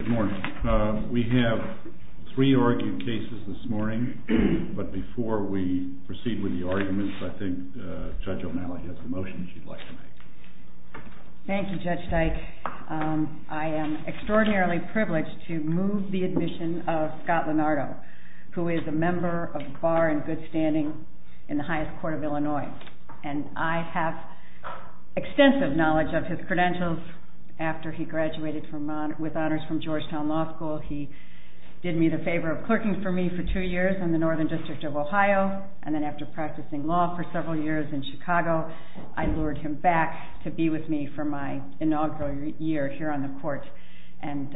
Good morning. We have three argued cases this morning, but before we proceed with the arguments, I think Judge O'Malley has a motion she'd like to make. Thank you, Judge Dyke. I am extraordinarily privileged to move the admission of Scott Lenardo, who is a member of the Bar and Good Standing in the highest court of Illinois. And I have extensive knowledge of his credentials after he graduated with honors from Georgetown Law School. He did me the favor of clerking for me for two years in the Northern District of Ohio, and then after practicing law for several years in Chicago, I lured him back to be with me for my inaugural year here on the court, and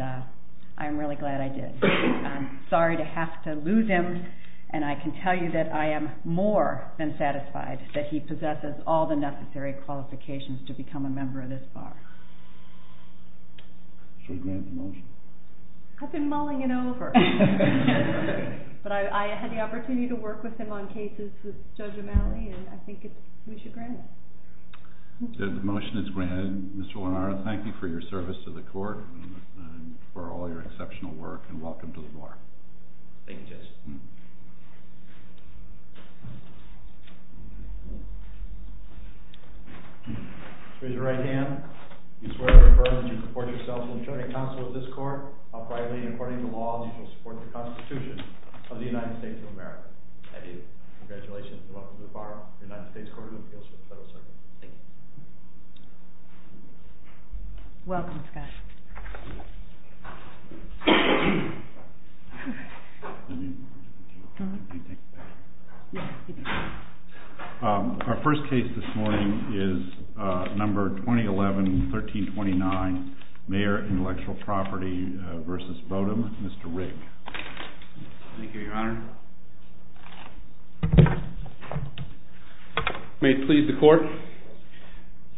I'm really glad I did. I'm sorry to have to lose him, and I can tell you that I am more than satisfied that he possesses all the necessary qualifications to become a member of this Bar. Should we grant the motion? I've been mulling it over, but I had the opportunity to work with him on cases with Judge O'Malley, and I think we should grant it. The motion is granted. Mr. Lenardo, thank you for your service to the court and for all your exceptional work, and welcome to the Bar. Thank you, Judge. Raise your right hand. You swear to confirm that you report yourself to the attorney counsel of this court, while privately and according to law, you shall support the Constitution of the United States of America. I do. Congratulations, and welcome to the Bar of the United States Court of Appeals for the Federal Circuit. Thank you. Welcome, Scott. Our first case this morning is number 2011-1329, Mayer Intellectual Property v. Bodom, Mr. Rigg. Thank you, Your Honor. May it please the Court.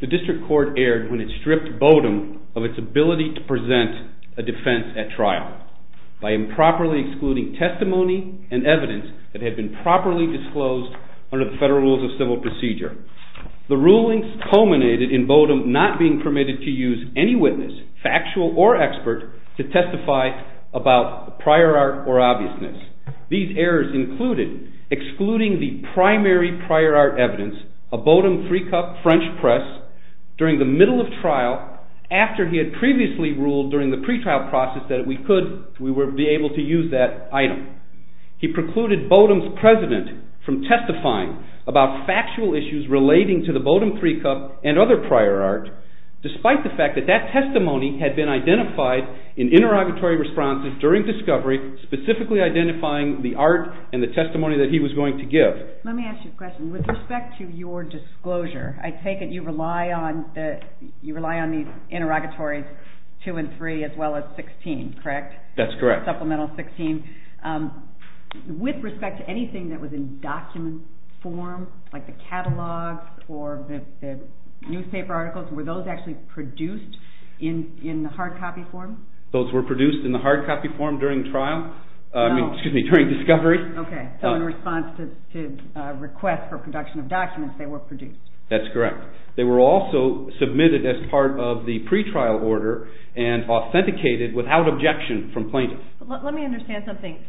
The District Court erred when it stripped Bodom of its ability to present a defense at trial by improperly excluding testimony and evidence that had been properly disclosed under the Federal Rules of Civil Procedure. The rulings culminated in Bodom not being permitted to use any witness, factual or expert, to testify about prior art or obviousness. These errors included excluding the primary prior art evidence, a Bodom three-cup French press, during the middle of trial after he had previously ruled during the pretrial process that we would be able to use that item. He precluded Bodom's president from testifying about factual issues relating to the Bodom three-cup and other prior art, despite the fact that that testimony had been identified in interrogatory responses during discovery, specifically identifying the art and the testimony that he was going to give. Let me ask you a question. With respect to your disclosure, I take it you rely on these interrogatories two and three as well as 16, correct? That's correct. Supplemental 16. With respect to anything that was in document form, like the catalogs or the newspaper articles, were those actually produced in the hard copy form? Those were produced in the hard copy form during discovery. So in response to requests for production of documents, they were produced. That's correct. They were also submitted as part of the pretrial order and authenticated without objection from plaintiffs. Let me understand something.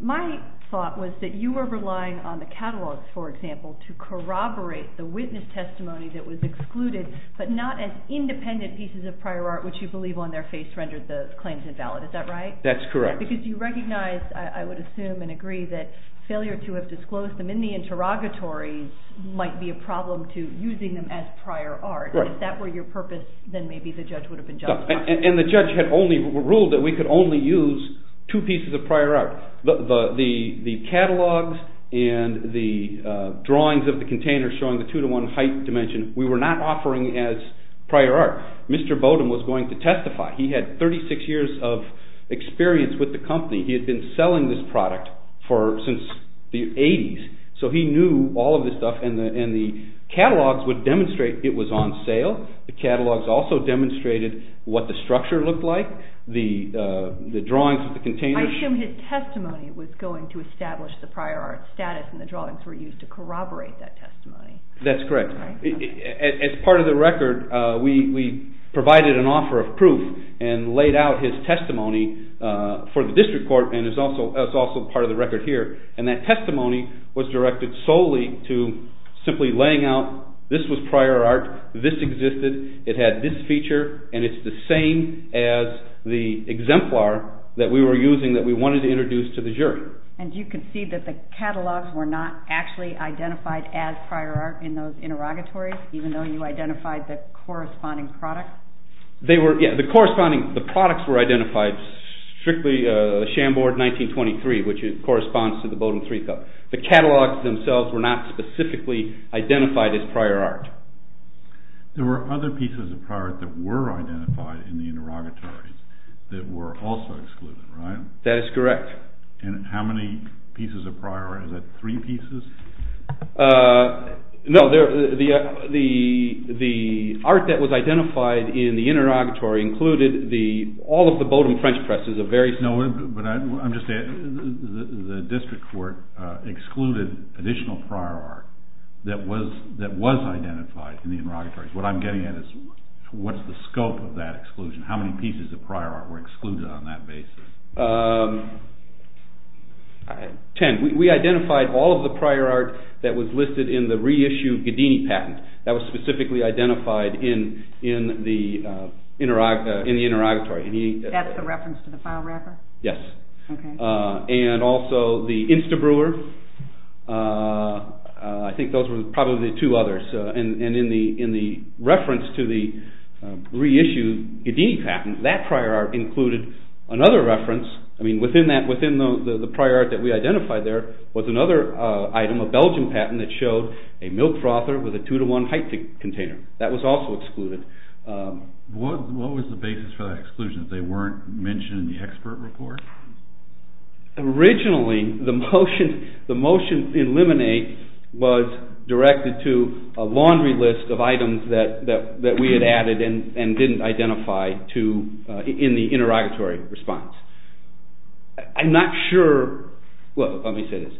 My thought was that you were relying on the catalogs, for example, to corroborate the witness testimony that was excluded but not as independent pieces of prior art, which you believe on their face rendered the claims invalid. Is that right? That's correct. Because you recognize, I would assume and agree, that failure to have disclosed them in the interrogatories might be a problem to using them as prior art. If that were your purpose, then maybe the judge would have been justified. And the judge had only ruled that we could only use two pieces of prior art. The catalogs and the drawings of the containers showing the two-to-one height dimension, we were not offering as prior art. Mr. Bowdoin was going to testify. He had 36 years of experience with the company. He had been selling this product since the 80s, so he knew all of this stuff. And the catalogs would demonstrate it was on sale. The catalogs also demonstrated what the structure looked like, the drawings of the containers. I assume his testimony was going to establish the prior art status and the drawings were used to corroborate that testimony. That's correct. As part of the record, we provided an offer of proof and laid out his testimony for the district court and it's also part of the record here. And that testimony was directed solely to simply laying out this was prior art, this existed, it had this feature, and it's the same as the exemplar that we were using that we wanted to introduce to the jury. And you can see that the catalogs were not actually identified as prior art in those interrogatories, even though you identified the corresponding product? They were, yeah, the corresponding, the products were identified strictly Chambord 1923, which corresponds to the Bowdoin Three Cup. The catalogs themselves were not specifically identified as prior art. There were other pieces of prior art that were identified in the interrogatories that were also excluded, right? That is correct. And how many pieces of prior art, is that three pieces? No, the art that was identified in the interrogatory included all of the Bowdoin French presses of various… No, but I'm just saying the district court excluded additional prior art that was identified in the interrogatories. What I'm getting at is what's the scope of that exclusion? How many pieces of prior art were excluded on that basis? Ten. We identified all of the prior art that was listed in the reissued Ghedini patent. That was specifically identified in the interrogatory. That's the reference to the file wrapper? Yes. Okay. And also the Insta Brewer. I think those were probably the two others. And in the reference to the reissued Ghedini patent, that prior art included another reference. Within the prior art that we identified there was another item, a Belgian patent, that showed a milk frother with a two-to-one height container. That was also excluded. What was the basis for that exclusion if they weren't mentioned in the expert report? Originally, the motion in limine was directed to a laundry list of items that we had added and didn't identify in the interrogatory response. I'm not sure… Well, let me say this.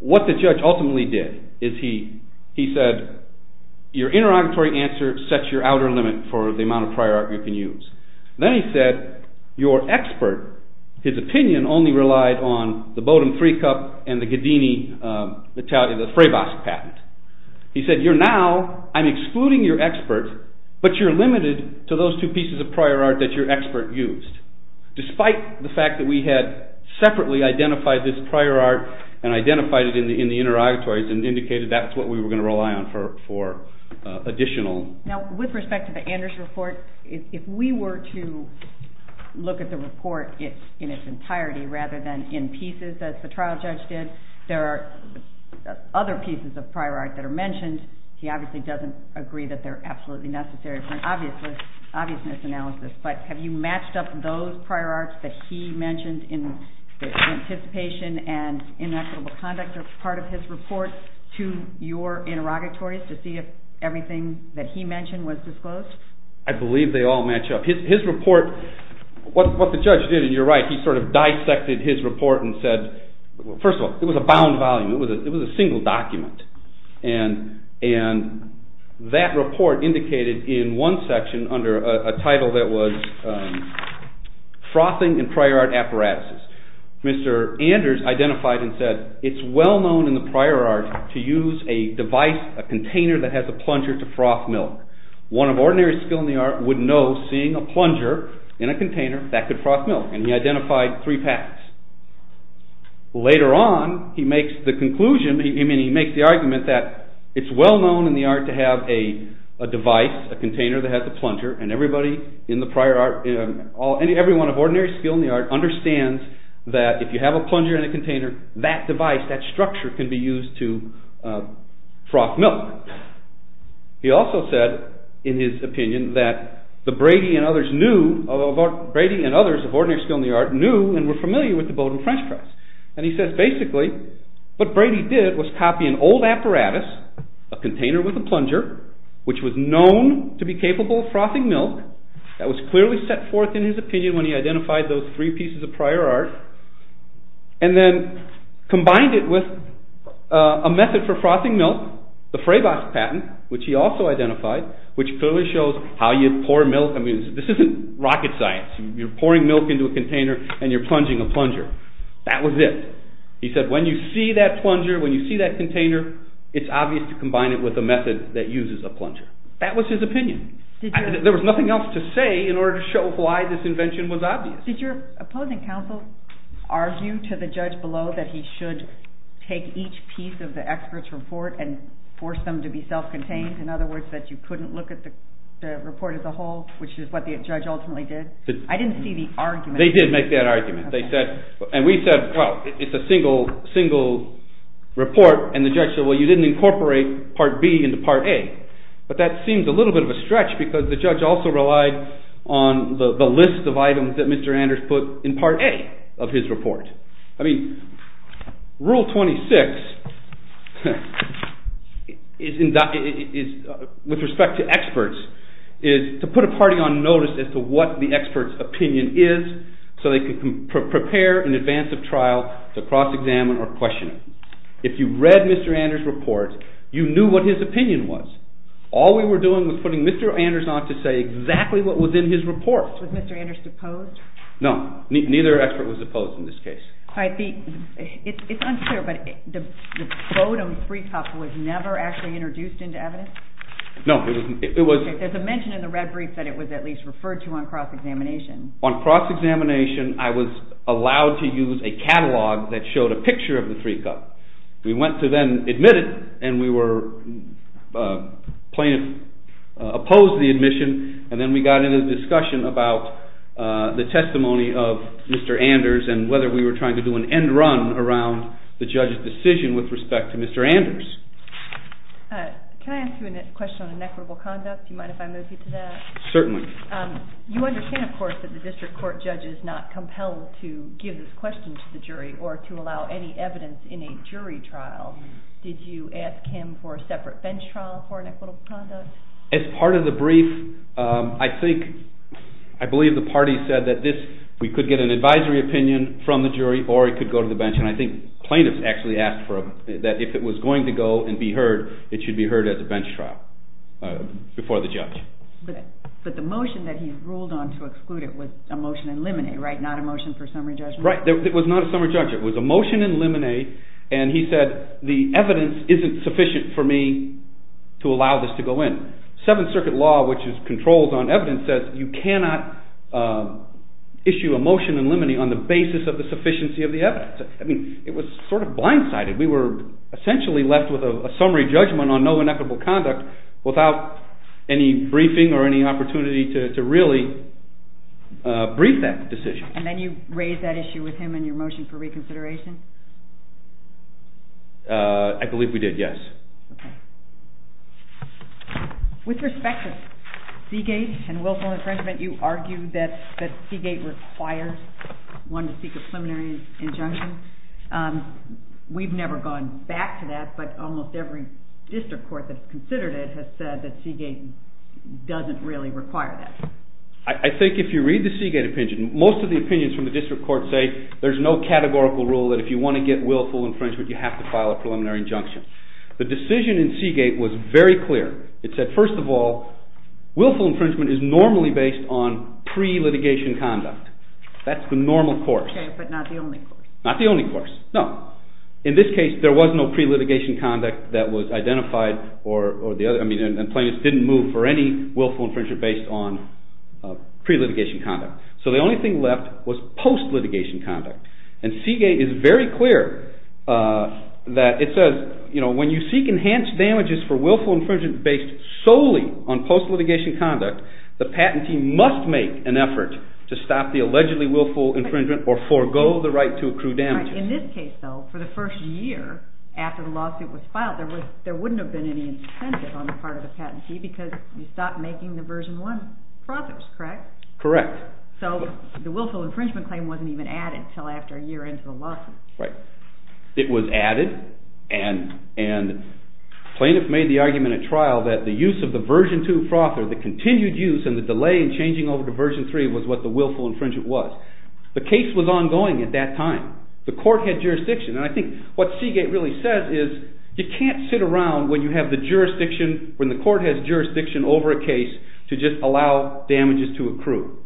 What the judge ultimately did is he said, your interrogatory answer sets your outer limit for the amount of prior art you can use. Then he said, your expert, his opinion only relied on the Bodum Three Cup and the Ghedini, the Freibas patent. He said, you're now, I'm excluding your expert, but you're limited to those two pieces of prior art that your expert used. Despite the fact that we had separately identified this prior art and identified it in the interrogatories and indicated that's what we were going to rely on for additional… If you were to look at the report in its entirety rather than in pieces as the trial judge did, there are other pieces of prior art that are mentioned. He obviously doesn't agree that they're absolutely necessary for an obviousness analysis, but have you matched up those prior arts that he mentioned in anticipation and inequitable conduct as part of his report to your interrogatories to see if everything that he mentioned was disclosed? I believe they all match up. His report, what the judge did, and you're right, he sort of dissected his report and said, first of all, it was a bound volume, it was a single document. And that report indicated in one section under a title that was Frothing and Prior Art Apparatuses. Mr. Anders identified and said, it's well known in the prior art to use a device, a container that has a plunger to froth milk. One of ordinary skill in the art would know seeing a plunger in a container that could froth milk, and he identified three paths. Later on, he makes the conclusion, he makes the argument that it's well known in the art to have a device, a container that has a plunger, and everybody in the prior art, everyone of ordinary skill in the art understands that if you have a plunger in a container, that device, that structure can be used to froth milk. He also said, in his opinion, that Brady and others of ordinary skill in the art knew and were familiar with the Bowdoin French Press. And he says, basically, what Brady did was copy an old apparatus, a container with a plunger, which was known to be capable of frothing milk, that was clearly set forth in his opinion when he identified those three pieces of prior art, and then combined it with a method for frothing milk, one, the Fraybach patent, which he also identified, which clearly shows how you pour milk, I mean, this isn't rocket science, you're pouring milk into a container and you're plunging a plunger. That was it. He said, when you see that plunger, when you see that container, it's obvious to combine it with a method that uses a plunger. That was his opinion. There was nothing else to say in order to show why this invention was obvious. Did your opposing counsel argue to the judge below that he should take each piece of the expert's report and force them to be self-contained? In other words, that you couldn't look at the report as a whole, which is what the judge ultimately did? I didn't see the argument. They did make that argument. And we said, well, it's a single report. And the judge said, well, you didn't incorporate Part B into Part A. But that seems a little bit of a stretch because the judge also relied on the list of items that Mr. Anders put in Part A of his report. I mean, Rule 26, with respect to experts, is to put a party on notice as to what the expert's opinion is so they can prepare in advance of trial to cross-examine or question it. If you read Mr. Anders' report, you knew what his opinion was. All we were doing was putting Mr. Anders on to say exactly what was in his report. Was Mr. Anders opposed? No. Neither expert was opposed in this case. It's unclear, but the photo of the three cups was never actually introduced into evidence? No. There's a mention in the red brief that it was at least referred to on cross-examination. On cross-examination, I was allowed to use a catalog that showed a picture of the three cups. We went to then admit it, and we were opposed to the admission, and then we got into the discussion about the testimony of Mr. Anders and whether we were trying to do an end run around the judge's decision with respect to Mr. Anders. Can I ask you a question on inequitable conduct? Do you mind if I move you to that? Certainly. Thank you. You understand, of course, that the district court judge is not compelled to give this question to the jury or to allow any evidence in a jury trial. Did you ask him for a separate bench trial for inequitable conduct? As part of the brief, I believe the party said that we could get an advisory opinion from the jury or it could go to the bench, and I think plaintiffs actually asked for it, that if it was going to go and be heard, it should be heard at the bench trial before the judge. But the motion that he ruled on to exclude it was a motion in limine, right? Not a motion for summary judgment? Right. It was not a summary judgment. It was a motion in limine, and he said the evidence isn't sufficient for me to allow this to go in. Seventh Circuit law, which controls on evidence, says you cannot issue a motion in limine on the basis of the sufficiency of the evidence. I mean, it was sort of blindsided. We were essentially left with a summary judgment on no inequitable conduct without any briefing or any opportunity to really brief that decision. And then you raised that issue with him in your motion for reconsideration? I believe we did, yes. Okay. With respect to Seagate and Wilson infringement, you argue that Seagate requires one to seek a preliminary injunction. We've never gone back to that, but almost every district court that's considered it has said that Seagate doesn't really require that. I think if you read the Seagate opinion, most of the opinions from the district court say there's no categorical rule that if you want to get willful infringement, you have to file a preliminary injunction. The decision in Seagate was very clear. It said, first of all, willful infringement is normally based on pre-litigation conduct. That's the normal court. Okay, but not the only court. Not the only court, no. In this case, there was no pre-litigation conduct that was identified, and plaintiffs didn't move for any willful infringement based on pre-litigation conduct. So the only thing left was post-litigation conduct. And Seagate is very clear that it says, when you seek enhanced damages for willful infringement based solely on post-litigation conduct, the patentee must make an effort to stop the allegedly willful infringement or forego the right to accrue damages. In this case, though, for the first year after the lawsuit was filed, there wouldn't have been any incentive on the part of the patentee because you stopped making the Version 1 frothers, correct? Correct. So the willful infringement claim wasn't even added until after a year into the lawsuit. Right. It was added, and plaintiffs made the argument at trial that the use of the Version 2 frother, the continued use, and the delay in changing over to Version 3 was what the willful infringement was. The case was ongoing at that time. The court had jurisdiction, and I think what Seagate really says is you can't sit around when you have the jurisdiction, when the court has jurisdiction over a case to just allow damages to accrue.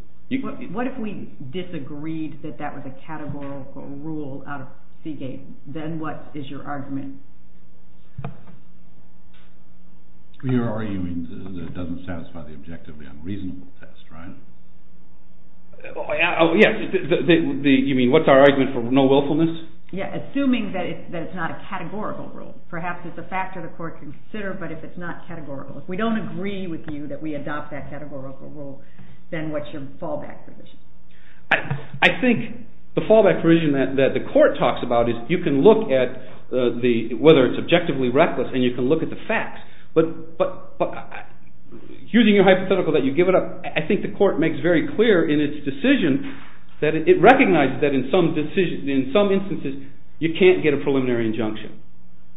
What if we disagreed that that was a categorical rule out of Seagate? Then what is your argument? Your argument is that it doesn't satisfy the objectively unreasonable test, right? Oh, yes. You mean what's our argument for no willfulness? Yes, assuming that it's not a categorical rule. Perhaps it's a factor the court can consider, but if it's not categorical, if we don't agree with you that we adopt that categorical rule, then what's your fallback provision? I think the fallback provision that the court talks about is you can look at whether it's objectively reckless, and you can look at the facts. But using your hypothetical that you give it up, I think the court makes very clear in its decision that it recognizes that in some instances you can't get a preliminary injunction.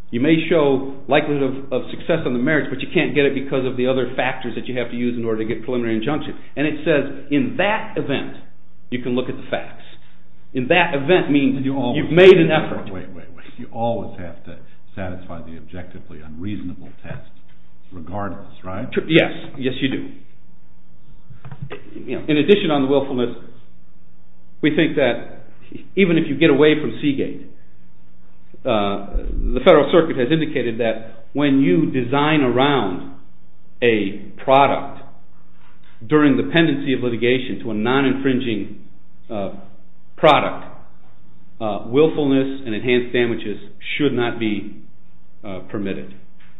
You may show likelihood of success on the merits, but you can't get it because of the other factors that you have to use in order to get preliminary injunction. And it says in that event you can look at the facts. In that event means you've made an effort. Wait, wait, wait. You always have to satisfy the objectively unreasonable test regardless, right? Yes, yes you do. In addition on the willfulness, we think that even if you get away from Seagate, the Federal Circuit has indicated that when you design around a product during the pendency of litigation to a non-infringing product, willfulness and enhanced damages should not be permitted.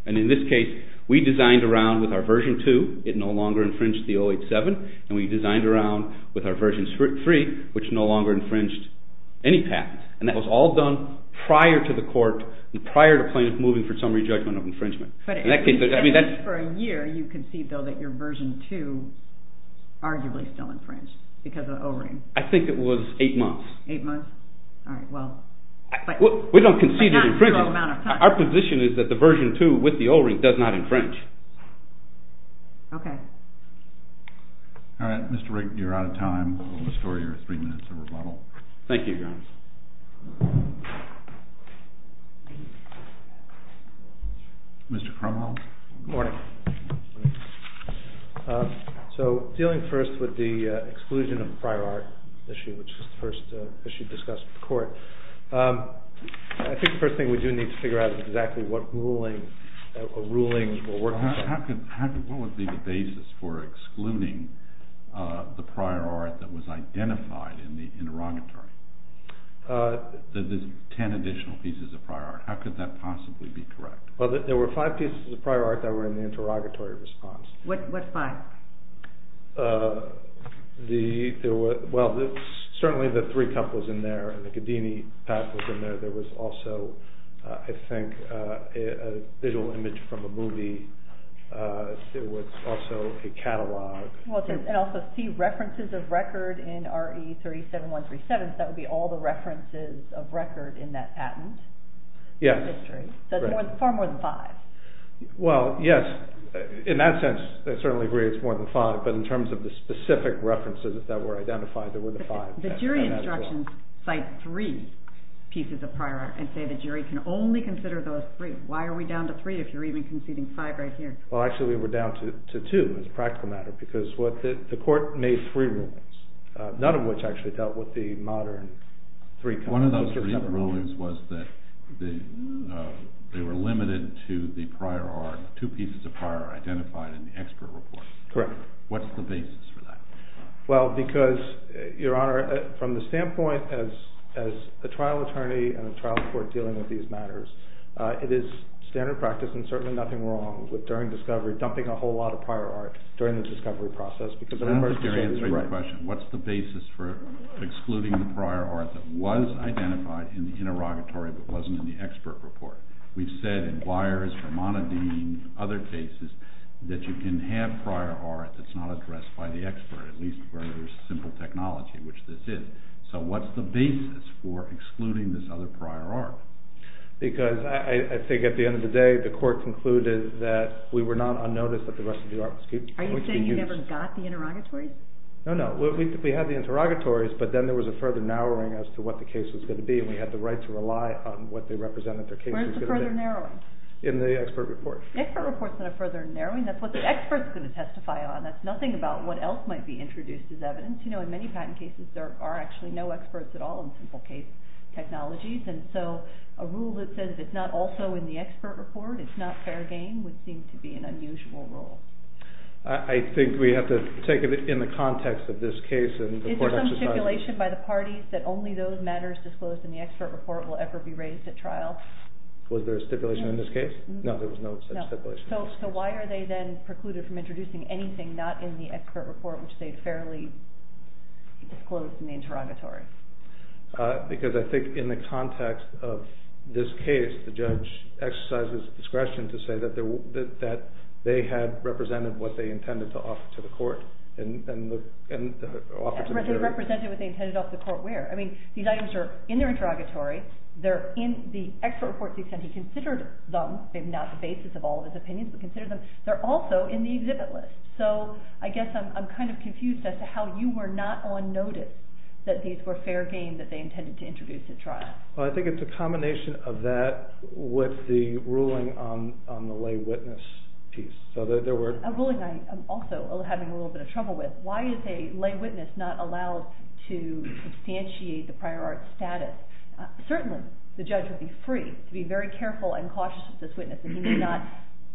And in this case, we designed around with our version 2. It no longer infringed the 087, and we designed around with our version 3, which no longer infringed any patents. And that was all done prior to the court and prior to plaintiff moving for summary judgment of infringement. But for a year you concede, though, that your version 2 arguably still infringed because of O-ring. I think it was 8 months. 8 months? All right, well. We don't concede it infringes. Our position is that the version 2 with the O-ring does not infringe. Okay. All right, Mr. Rigg, you're out of time. We'll restore your 3 minutes of rebuttal. Mr. Krumholz? Good morning. So dealing first with the exclusion of the prior art issue, which was the first issue discussed with the court, I think the first thing we do need to figure out is exactly what rulings were worked on. What would be the basis for excluding the prior art that was identified in the interrogatory, the 10 additional pieces of prior art? How could that possibly be correct? Well, there were 5 pieces of prior art that were in the interrogatory response. What 5? Well, certainly the 3-cup was in there, the Cadini patent was in there. There was also, I think, a visual image from a movie. There was also a catalog. And also see references of record in RE 37137, so that would be all the references of record in that patent. Far more than 5. Well, yes, in that sense, I certainly agree it's more than 5, but in terms of the specific references that were identified, there were the 5. The jury instructions cite 3 pieces of prior art and say the jury can only consider those 3. Why are we down to 3 if you're even conceding 5 right here? Well, actually we're down to 2 as a practical matter because the court made 3 rulings, none of which actually dealt with the modern 3-cup. One of those 3 rulings was that they were limited to the prior art, 2 pieces of prior art identified in the expert report. Correct. What's the basis for that? Well, because, Your Honor, from the standpoint as a trial attorney and a trial court dealing with these matters, it is standard practice and certainly nothing wrong with during discovery dumping a whole lot of prior art during the discovery process. That's not answering the question. What's the basis for excluding the prior art that was identified in the interrogatory but wasn't in the expert report? We've said in Weyers, Hermann and Dean, other cases, that you can have prior art that's not addressed by the expert, at least where there's simple technology, which this is. So what's the basis for excluding this other prior art? Because I think at the end of the day, the court concluded that we were not unnoticed that the rest of the art was used. Are you saying you never got the interrogatories? No, no. We had the interrogatories, but then there was a further narrowing as to what the case was going to be, and we had the right to rely on what they represented their case was going to be. Where's the further narrowing? In the expert report. The expert report's not a further narrowing. That's what the expert's going to testify on. That's nothing about what else might be introduced as evidence. You know, in many patent cases, there are actually no experts at all in simple case technologies, and so a rule that says it's not also in the expert report, it's not fair game, would seem to be an unusual rule. I think we have to take it in the context of this case and the court exercise. Is there some stipulation by the parties that only those matters disclosed in the expert report will ever be raised at trial? Was there a stipulation in this case? No, there was no such stipulation. So why are they then precluded from introducing anything not in the expert report, which they had fairly disclosed in the interrogatory? Because I think in the context of this case, the judge exercises discretion to say that they had represented what they intended to offer to the court, and offered to the jury. Represented what they intended to offer to the court where? I mean, these items are in the interrogatory, they're in the expert report to the extent he considered them. They're not the basis of all of his opinions, but considered them. They're also in the exhibit list. So I guess I'm kind of confused as to how you were not on notice that these were fair game that they intended to introduce at trial. Well, I think it's a combination of that with the ruling on the lay witness piece. A ruling I'm also having a little bit of trouble with. Why is a lay witness not allowed to substantiate the prior art status? Certainly, the judge would be free to be very careful and cautious of this witness, and he may not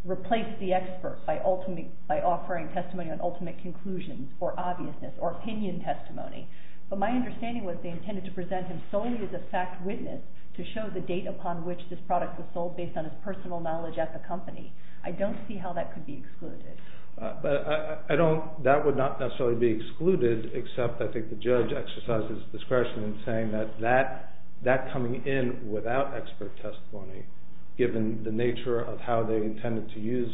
replace the expert by offering testimony on ultimate conclusion or obviousness or opinion testimony. But my understanding was they intended to present him solely as a fact witness to show the date upon which this product was sold based on his personal knowledge at the company. I don't see how that could be excluded. That would not necessarily be excluded, except I think the judge exercises discretion in saying that that coming in without expert testimony, given the nature of how they intended to use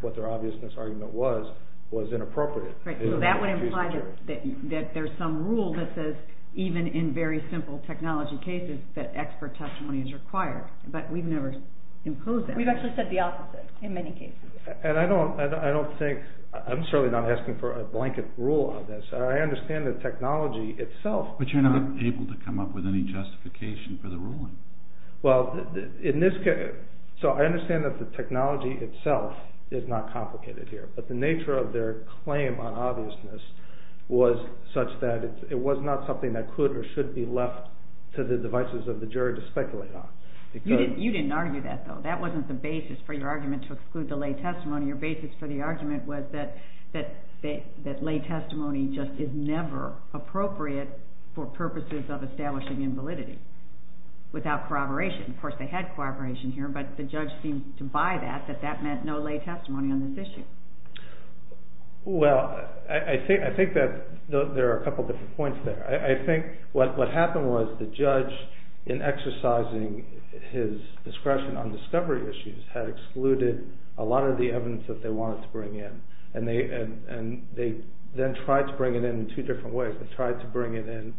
what their obviousness argument was, was inappropriate. So that would imply that there's some rule that says, even in very simple technology cases, that expert testimony is required. But we've never imposed that. We've actually said the opposite in many cases. And I don't think... I'm certainly not asking for a blanket rule on this. I understand the technology itself... But you're not able to come up with any justification for the ruling. Well, in this case... So I understand that the technology itself is not complicated here, but the nature of their claim on obviousness was such that it was not something that could or should be left to the devices of the jury to speculate on. You didn't argue that, though. That wasn't the basis for your argument to exclude the lay testimony. Your basis for the argument was that lay testimony just is never appropriate for purposes of establishing invalidity without corroboration. Of course, they had corroboration here, but the judge seemed to buy that, that that meant no lay testimony on this issue. Well, I think that there are a couple of different points there. I think what happened was the judge, in exercising his discretion on discovery issues, had excluded a lot of the evidence that they wanted to bring in. And they then tried to bring it in in two different ways. They tried to bring it in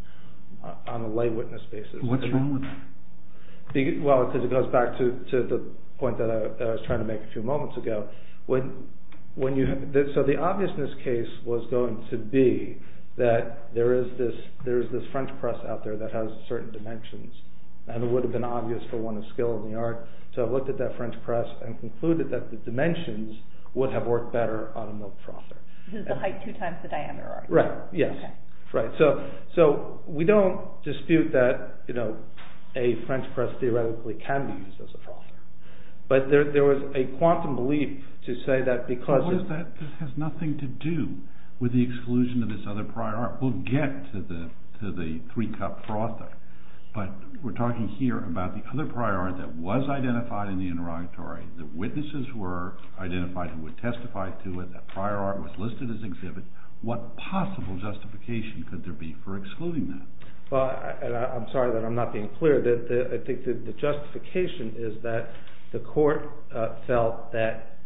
on a lay witness basis. What's wrong with that? Well, it goes back to the point that I was trying to make a few moments ago. So the obviousness case was going to be that there is this French press out there that has certain dimensions, and it would have been obvious for one of skill in the art. So I looked at that French press and concluded that the dimensions would have worked better on a milk frother. This is the height two times the diameter, right? Right, yes. So we don't dispute that a French press theoretically can be used as a frother. But there was a quantum belief to say that because... So what is that? It has nothing to do with the exclusion of this other prior art. We'll get to the three-cup frother. But we're talking here about the other prior art that was identified in the interrogatory, that witnesses were identified who would testify to it, that prior art was listed as exhibit. What possible justification could there be for excluding that? I'm sorry that I'm not being clear. I think the justification is that the court felt that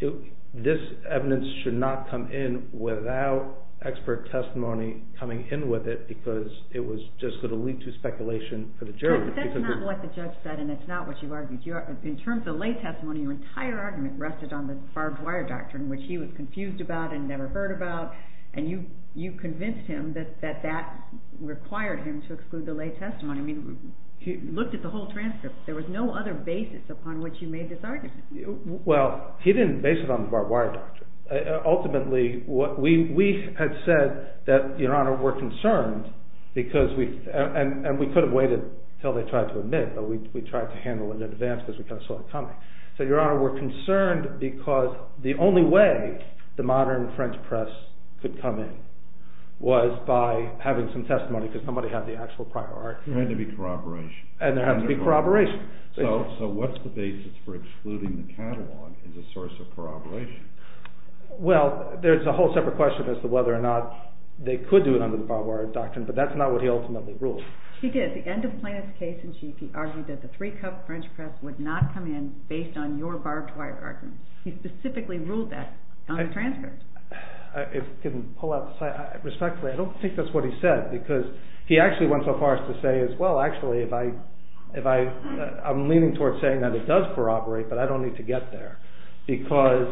this evidence should not come in without expert testimony coming in with it because it was just going to lead to speculation for the jury. But that's not what the judge said, and it's not what you argued. In terms of lay testimony, your entire argument rested on the barbed wire doctrine, which he was confused about and never heard about, and you convinced him that that required him to exclude the lay testimony. I mean, you looked at the whole transcript. There was no other basis upon which you made this argument. Well, he didn't base it on the barbed wire doctrine. Ultimately, we had said that, Your Honor, we're concerned, and we could have waited until they tried to admit, but we tried to handle it in advance because we saw it coming. So, Your Honor, we're concerned because the only way the modern French press could come in was by having some testimony because somebody had the actual prior art. There had to be corroboration. And there had to be corroboration. So, what's the basis for excluding the catalog as a source of corroboration? Well, there's a whole separate question as to whether or not they could do it under the barbed wire doctrine, but that's not what he ultimately ruled. He did. At the end of Plano's case in G.P., he argued that the three-cup French press would not come in based on your barbed wire argument. He specifically ruled that on the transcript. If I can pull out the slide. Respectfully, I don't think that's what he said because he actually went so far as to say, well, actually, if I... I'm leaning towards saying that it does corroborate, but I don't need to get there because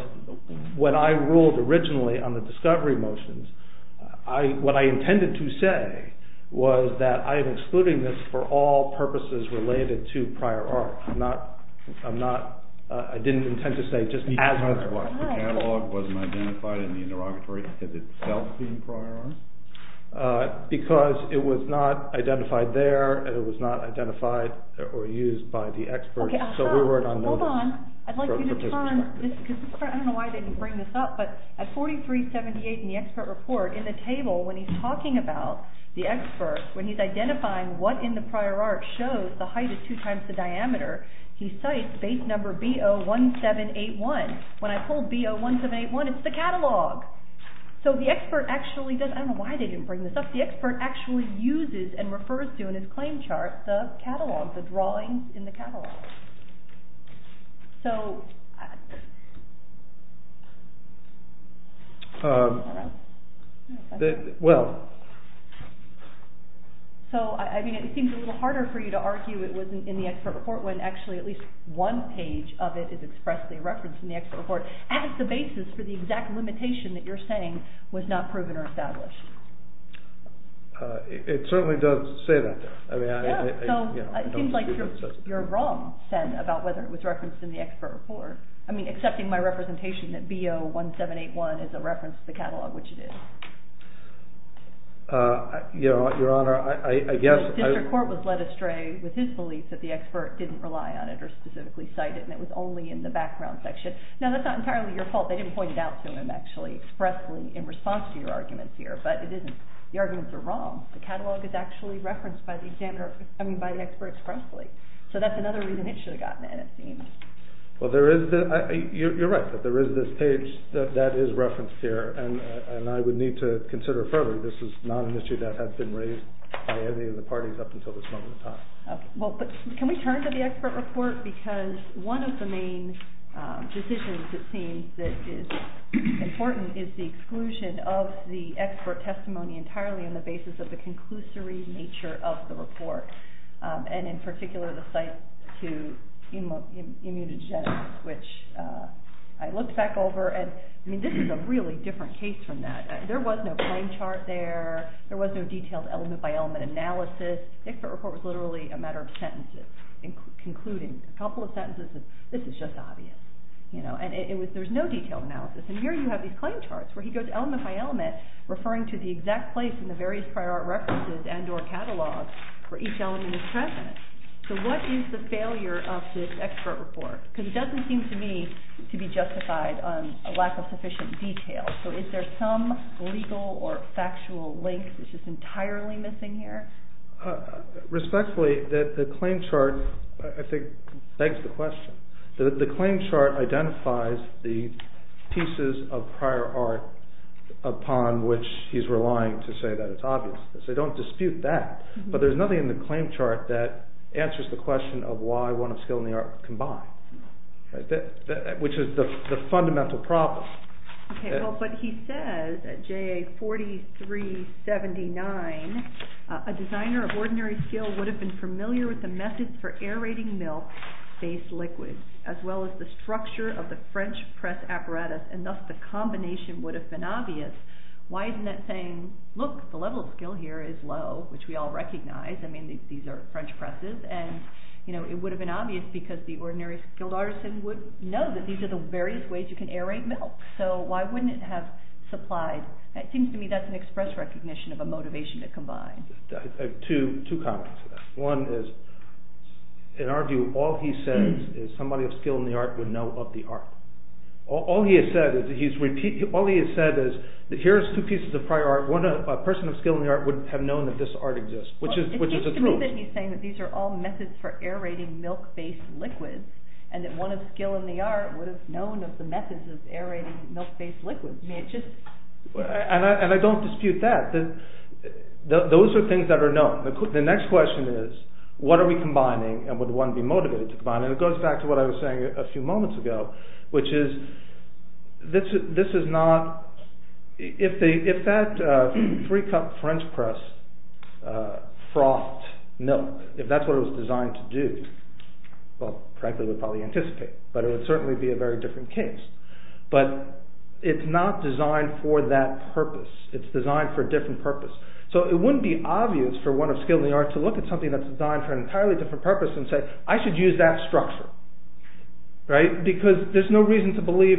when I ruled originally on the discovery motions, what I intended to say was that I am excluding this for all purposes related to prior art. I'm not... I didn't intend to say just as much what. The catalog wasn't identified in the interrogatory. Has it itself been prior art? Because it was not identified there and it was not identified or used by the experts, so we weren't on notice. Hold on. I'd like you to turn this... I don't know why I didn't bring this up, but at 4378 in the expert report, in the table when he's talking about the experts, when he's identifying what in the prior art shows the height of two times the diameter, he cites base number B01781. When I pulled B01781, it's the catalog. So the expert actually does... I don't know why they didn't bring this up. The expert actually uses and refers to in his claim chart the catalog, the drawings in the catalog. So... Hold on. Well... So, I mean, it seems a little harder for you to argue it wasn't in the expert report when actually at least one page of it is expressly referenced in the expert report as the basis for the exact limitation that you're saying was not proven or established. It certainly does say that, though. Yeah, so it seems like you're wrong, about whether it was referenced in the expert report. I mean, accepting my representation that B01781 is a reference to the catalog, which it is. Your Honor, I guess... The court was led astray with his belief that the expert didn't rely on it or specifically cite it, and it was only in the background section. Now, that's not entirely your fault. They didn't point it out to him, actually, expressly in response to your arguments here, but it isn't... The arguments are wrong. The catalog is actually referenced by the expert expressly. So that's another reason it should have gotten in, it seems. Well, there is... You're right that there is this page that is referenced here, and I would need to consider it further. This is not an issue that has been raised by any of the parties up until this moment in time. Well, but can we turn to the expert report? Because one of the main decisions, it seems, that is important is the exclusion of the expert testimony entirely on the basis of the conclusory nature of the report, and in particular the cite to immunogenesis, which I looked back over, and, I mean, this is a really different case from that. There was no plain chart there. There was no detailed element-by-element analysis. The expert report was literally a matter of sentences concluding a couple of sentences of, this is just obvious, you know, and there's no detailed analysis. And here you have these plain charts where he goes element-by-element referring to the exact place in the various prior art references and or catalogs where each element is present. So what is the failure of this expert report? Because it doesn't seem to me to be justified on a lack of sufficient detail. So is there some legal or factual link which is entirely missing here? Respectfully, the plain chart, I think, begs the question. The plain chart identifies the pieces of prior art upon which he's relying to say that it's obvious. So don't dispute that. But there's nothing in the plain chart that answers the question of why one of skill and the art combine, which is the fundamental problem. Okay, well, but he says at JA 4379 a designer of ordinary skill would have been familiar with the methods for aerating milk-based liquids as well as the structure of the French press apparatus and thus the combination would have been obvious. Why isn't that saying, look, the level of skill here is low, which we all recognize. I mean, these are French presses. And, you know, it would have been obvious because the ordinary skilled artisan would know that these are the various ways you can aerate milk. So why wouldn't it have supplied? It seems to me that's an express recognition of a motivation to combine. Two comments. One is, in our view, all he says is somebody of skill in the art would know of the art. All he has said is that here's two pieces of prior art. A person of skill in the art would have known that this art exists, which is a truth. He's saying that these are all methods for aerating milk-based liquids and that one of skill in the art would have known of the methods of aerating milk-based liquids. And I don't dispute that. Those are things that are known. The next question is, what are we combining and would one be motivated to combine? And it goes back to what I was saying a few moments ago, which is, this is not... If that three-cup French press frothed milk, if that's what it was designed to do, well, frankly, we'd probably anticipate it, but it would certainly be a very different case. But it's not designed for that purpose. It's designed for a different purpose. So it wouldn't be obvious for one of skill in the art to look at something that's designed for an entirely different purpose and say, I should use that structure, right? Because there's no reason to believe...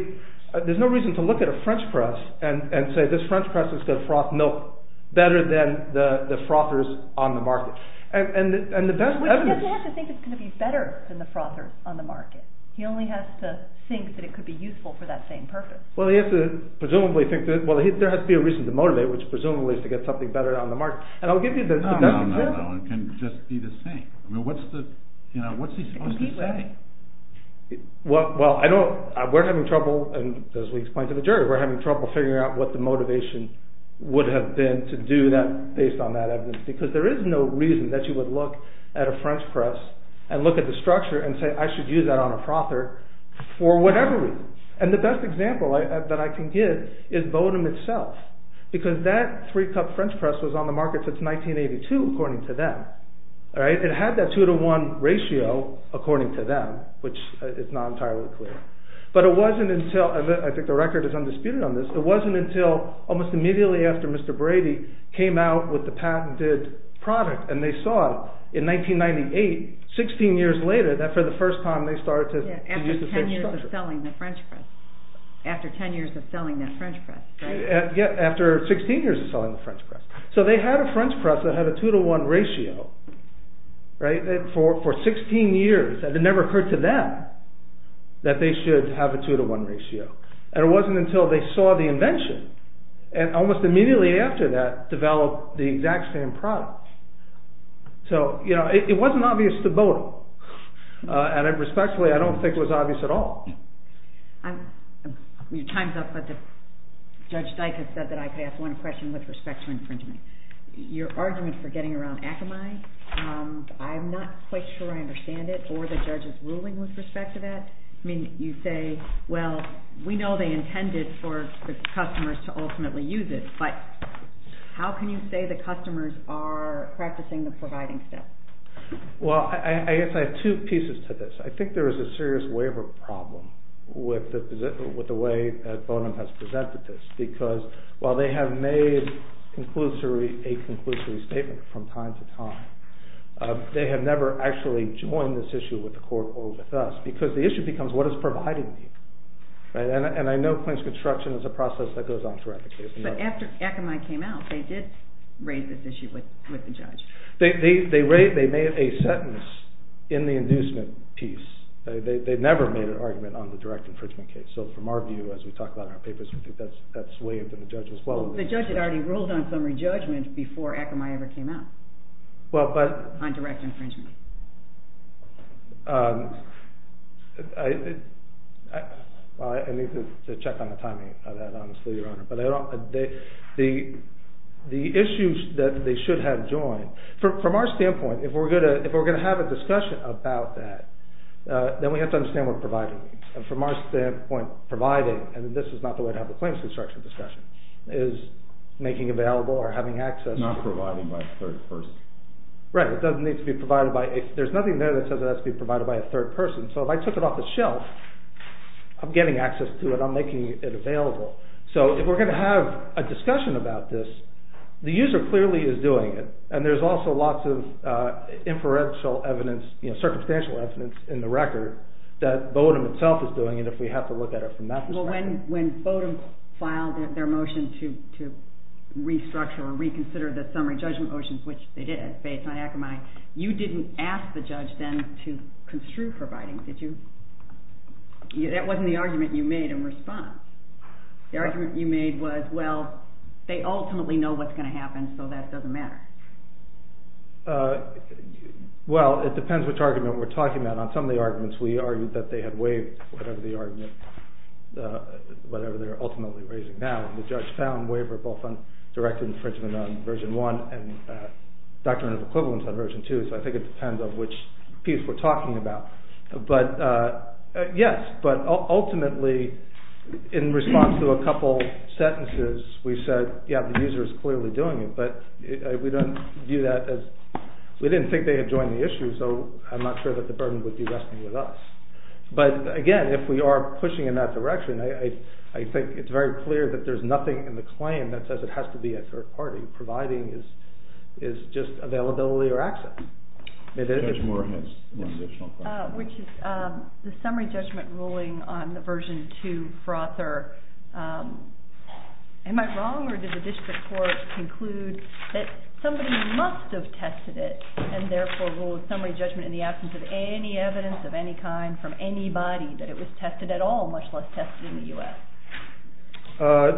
There's no reason to look at a French press and say, this French press is going to froth milk better than the frothers on the market. And the best evidence... He doesn't have to think it's going to be better than the frothers on the market. He only has to think that it could be useful for that same purpose. Well, he has to presumably think that... Well, there has to be a reason to motivate, which presumably is to get something better on the market. And I'll give you the best example. No, no, no, it can just be the same. I mean, what's he supposed to say? Well, I know we're having trouble, and as we explained to the jury, we're having trouble figuring out what the motivation would have been to do that based on that evidence, because there is no reason that you would look at a French press and look at the structure and say, I should use that on a frother for whatever reason. And the best example that I can give is Bowdoin itself, because that three-cup French press was on the market since 1982, according to them. It had that two-to-one ratio, according to them, which is not entirely clear. But it wasn't until... I think the record is undisputed on this. It wasn't until almost immediately after Mr. Brady came out with the patented product, and they saw in 1998, 16 years later, that for the first time they started to use the same structure. Yeah, after 10 years of selling the French press. After 10 years of selling that French press, right? Yeah, after 16 years of selling the French press. So they had a French press that had a two-to-one ratio, for 16 years, and it never occurred to them that they should have a two-to-one ratio. And it wasn't until they saw the invention, and almost immediately after that, developed the exact same product. So, you know, it wasn't obvious to both of them. And respectfully, I don't think it was obvious at all. Your time's up, but Judge Dyk has said that I could ask one question with respect to infringement. Your argument for getting around Akamai, I'm not quite sure I understand it, or the judge's ruling with respect to that. I mean, you say, well, we know they intended for the customers to ultimately use it, but how can you say the customers are practicing the providing steps? Well, I guess I have two pieces to this. I think there is a serious waiver problem with the way that Bonham has presented this, because while they have made a conclusory statement from time to time, they have never actually joined this issue with the court or with us, because the issue becomes what does providing mean? And I know claims construction is a process that goes on throughout the case. But after Akamai came out, they did raise this issue with the judge. They made a sentence in the inducement piece. They never made an argument on the direct infringement case. So from our view, as we talk about in our papers, we think that's waived, and the judge as well. The judge had already ruled on summary judgment before Akamai ever came out on direct infringement. I need to check on the timing of that, honestly, Your Honor. The issues that they should have joined, from our standpoint, if we're going to have a discussion about that, then we have to understand what providing means. And from our standpoint, providing, and this is not the way to have a claims construction discussion, is making available or having access to... Not providing by a third person. Right. It doesn't need to be provided by... There's nothing there that says it has to be provided by a third person. So if I took it off the shelf, I'm getting access to it, I'm making it available. So if we're going to have a discussion about this, the user clearly is doing it, and there's also lots of inferential evidence, circumstantial evidence in the record that Bodum itself is doing it, if we have to look at it from that perspective. Well, when Bodum filed their motion to restructure or reconsider the summary judgment motions, which they did based on Akamai, you didn't ask the judge then to construe providing, did you? That wasn't the argument you made in response. The argument you made was, well, they ultimately know what's going to happen, so that doesn't matter. Well, it depends which argument we're talking about. On some of the arguments, we argued that they had waived whatever the argument, whatever they're ultimately raising now, and the judge found waiver both directed infringement on version one and document of equivalence on version two, so I think it depends on which piece we're talking about. But, yes, but ultimately, in response to a couple sentences, we said, yeah, the user is clearly doing it, but we don't view that as, we didn't think they had joined the issue, so I'm not sure that the burden would be resting with us. But, again, if we are pushing in that direction, I think it's very clear that there's nothing in the claim that says it has to be a third party. Providing is just availability or access. The summary judgment ruling on the version two frother, am I wrong, or did the district court conclude that somebody must have tested it, and therefore ruled summary judgment in the absence of any evidence of any kind from anybody that it was tested at all, much less tested in the U.S.?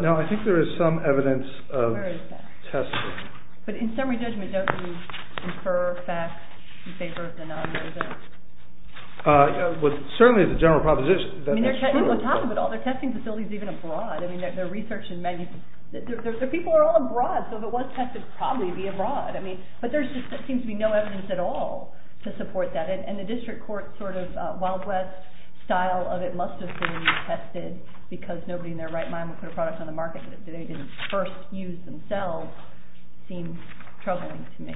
No, I think there is some evidence of testing. But in summary judgment, don't you incur facts in favor of the non-user? Certainly, it's a general proposition. I mean, on top of it all, they're testing facilities even abroad. I mean, their research in many, their people are all abroad, so if it was tested, probably it would be abroad. I mean, but there seems to be no evidence at all to support that, and the district court's sort of wild west style of it must have been tested, because nobody in their right mind would put a product on the market that they didn't first use themselves seems troubling to me.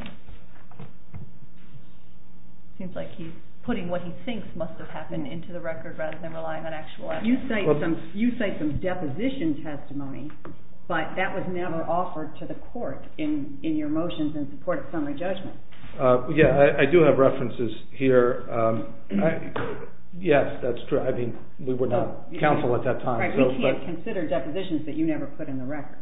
Seems like he's putting what he thinks must have happened into the record rather than relying on actual evidence. You cite some deposition testimony, but that was never offered to the court in your motions in support of summary judgment. Yeah, I do have references here. Yes, that's true. I mean, we were not counsel at that time. Right, we can't consider depositions that you never put in the record.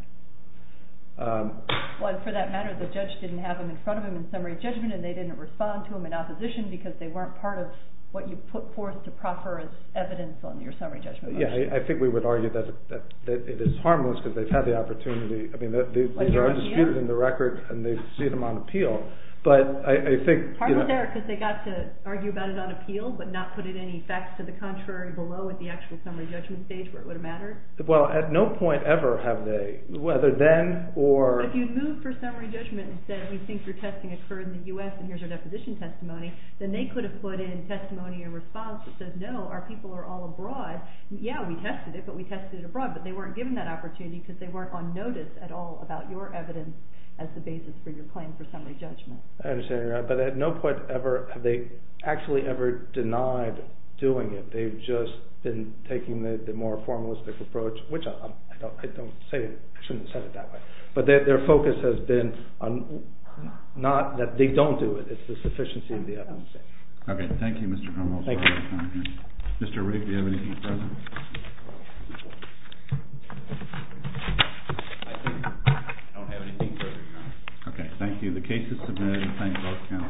Well, and for that matter, the judge didn't have them in front of him in summary judgment, and they didn't respond to them in opposition, because they weren't part of what you put forth to proffer as evidence on your summary judgment motion. Yeah, I think we would argue that it is harmless, because they've had the opportunity, I mean, they're undisputed in the record, and they've seen them on appeal, but I think... Partly there, because they got to argue about it on appeal, but not put any facts to the contrary below at the actual summary judgment stage, where it would have mattered. Well, at no point ever have they, whether then, or... But if you'd moved for summary judgment and said, we think your testing occurred in the U.S., and here's our deposition testimony, then they could have put in testimony in response that says, no, our people are all abroad. Yeah, we tested it, but we tested it abroad, but they weren't given that opportunity, because they weren't on notice at all about your evidence as the basis for your claim for summary judgment. I understand, but at no point ever have they actually ever denied doing it. They've just been taking the more formalistic approach, which I don't say... I shouldn't have said it that way. But their focus has been on... Not that they don't do it. It's the sufficiency of the evidence. Okay. Thank you, Mr. Cromwell. Thank you. Mr. Rigg, do you have anything further? I think I don't have anything further, Your Honor. Okay. Thank you. The case is submitted. Thank you.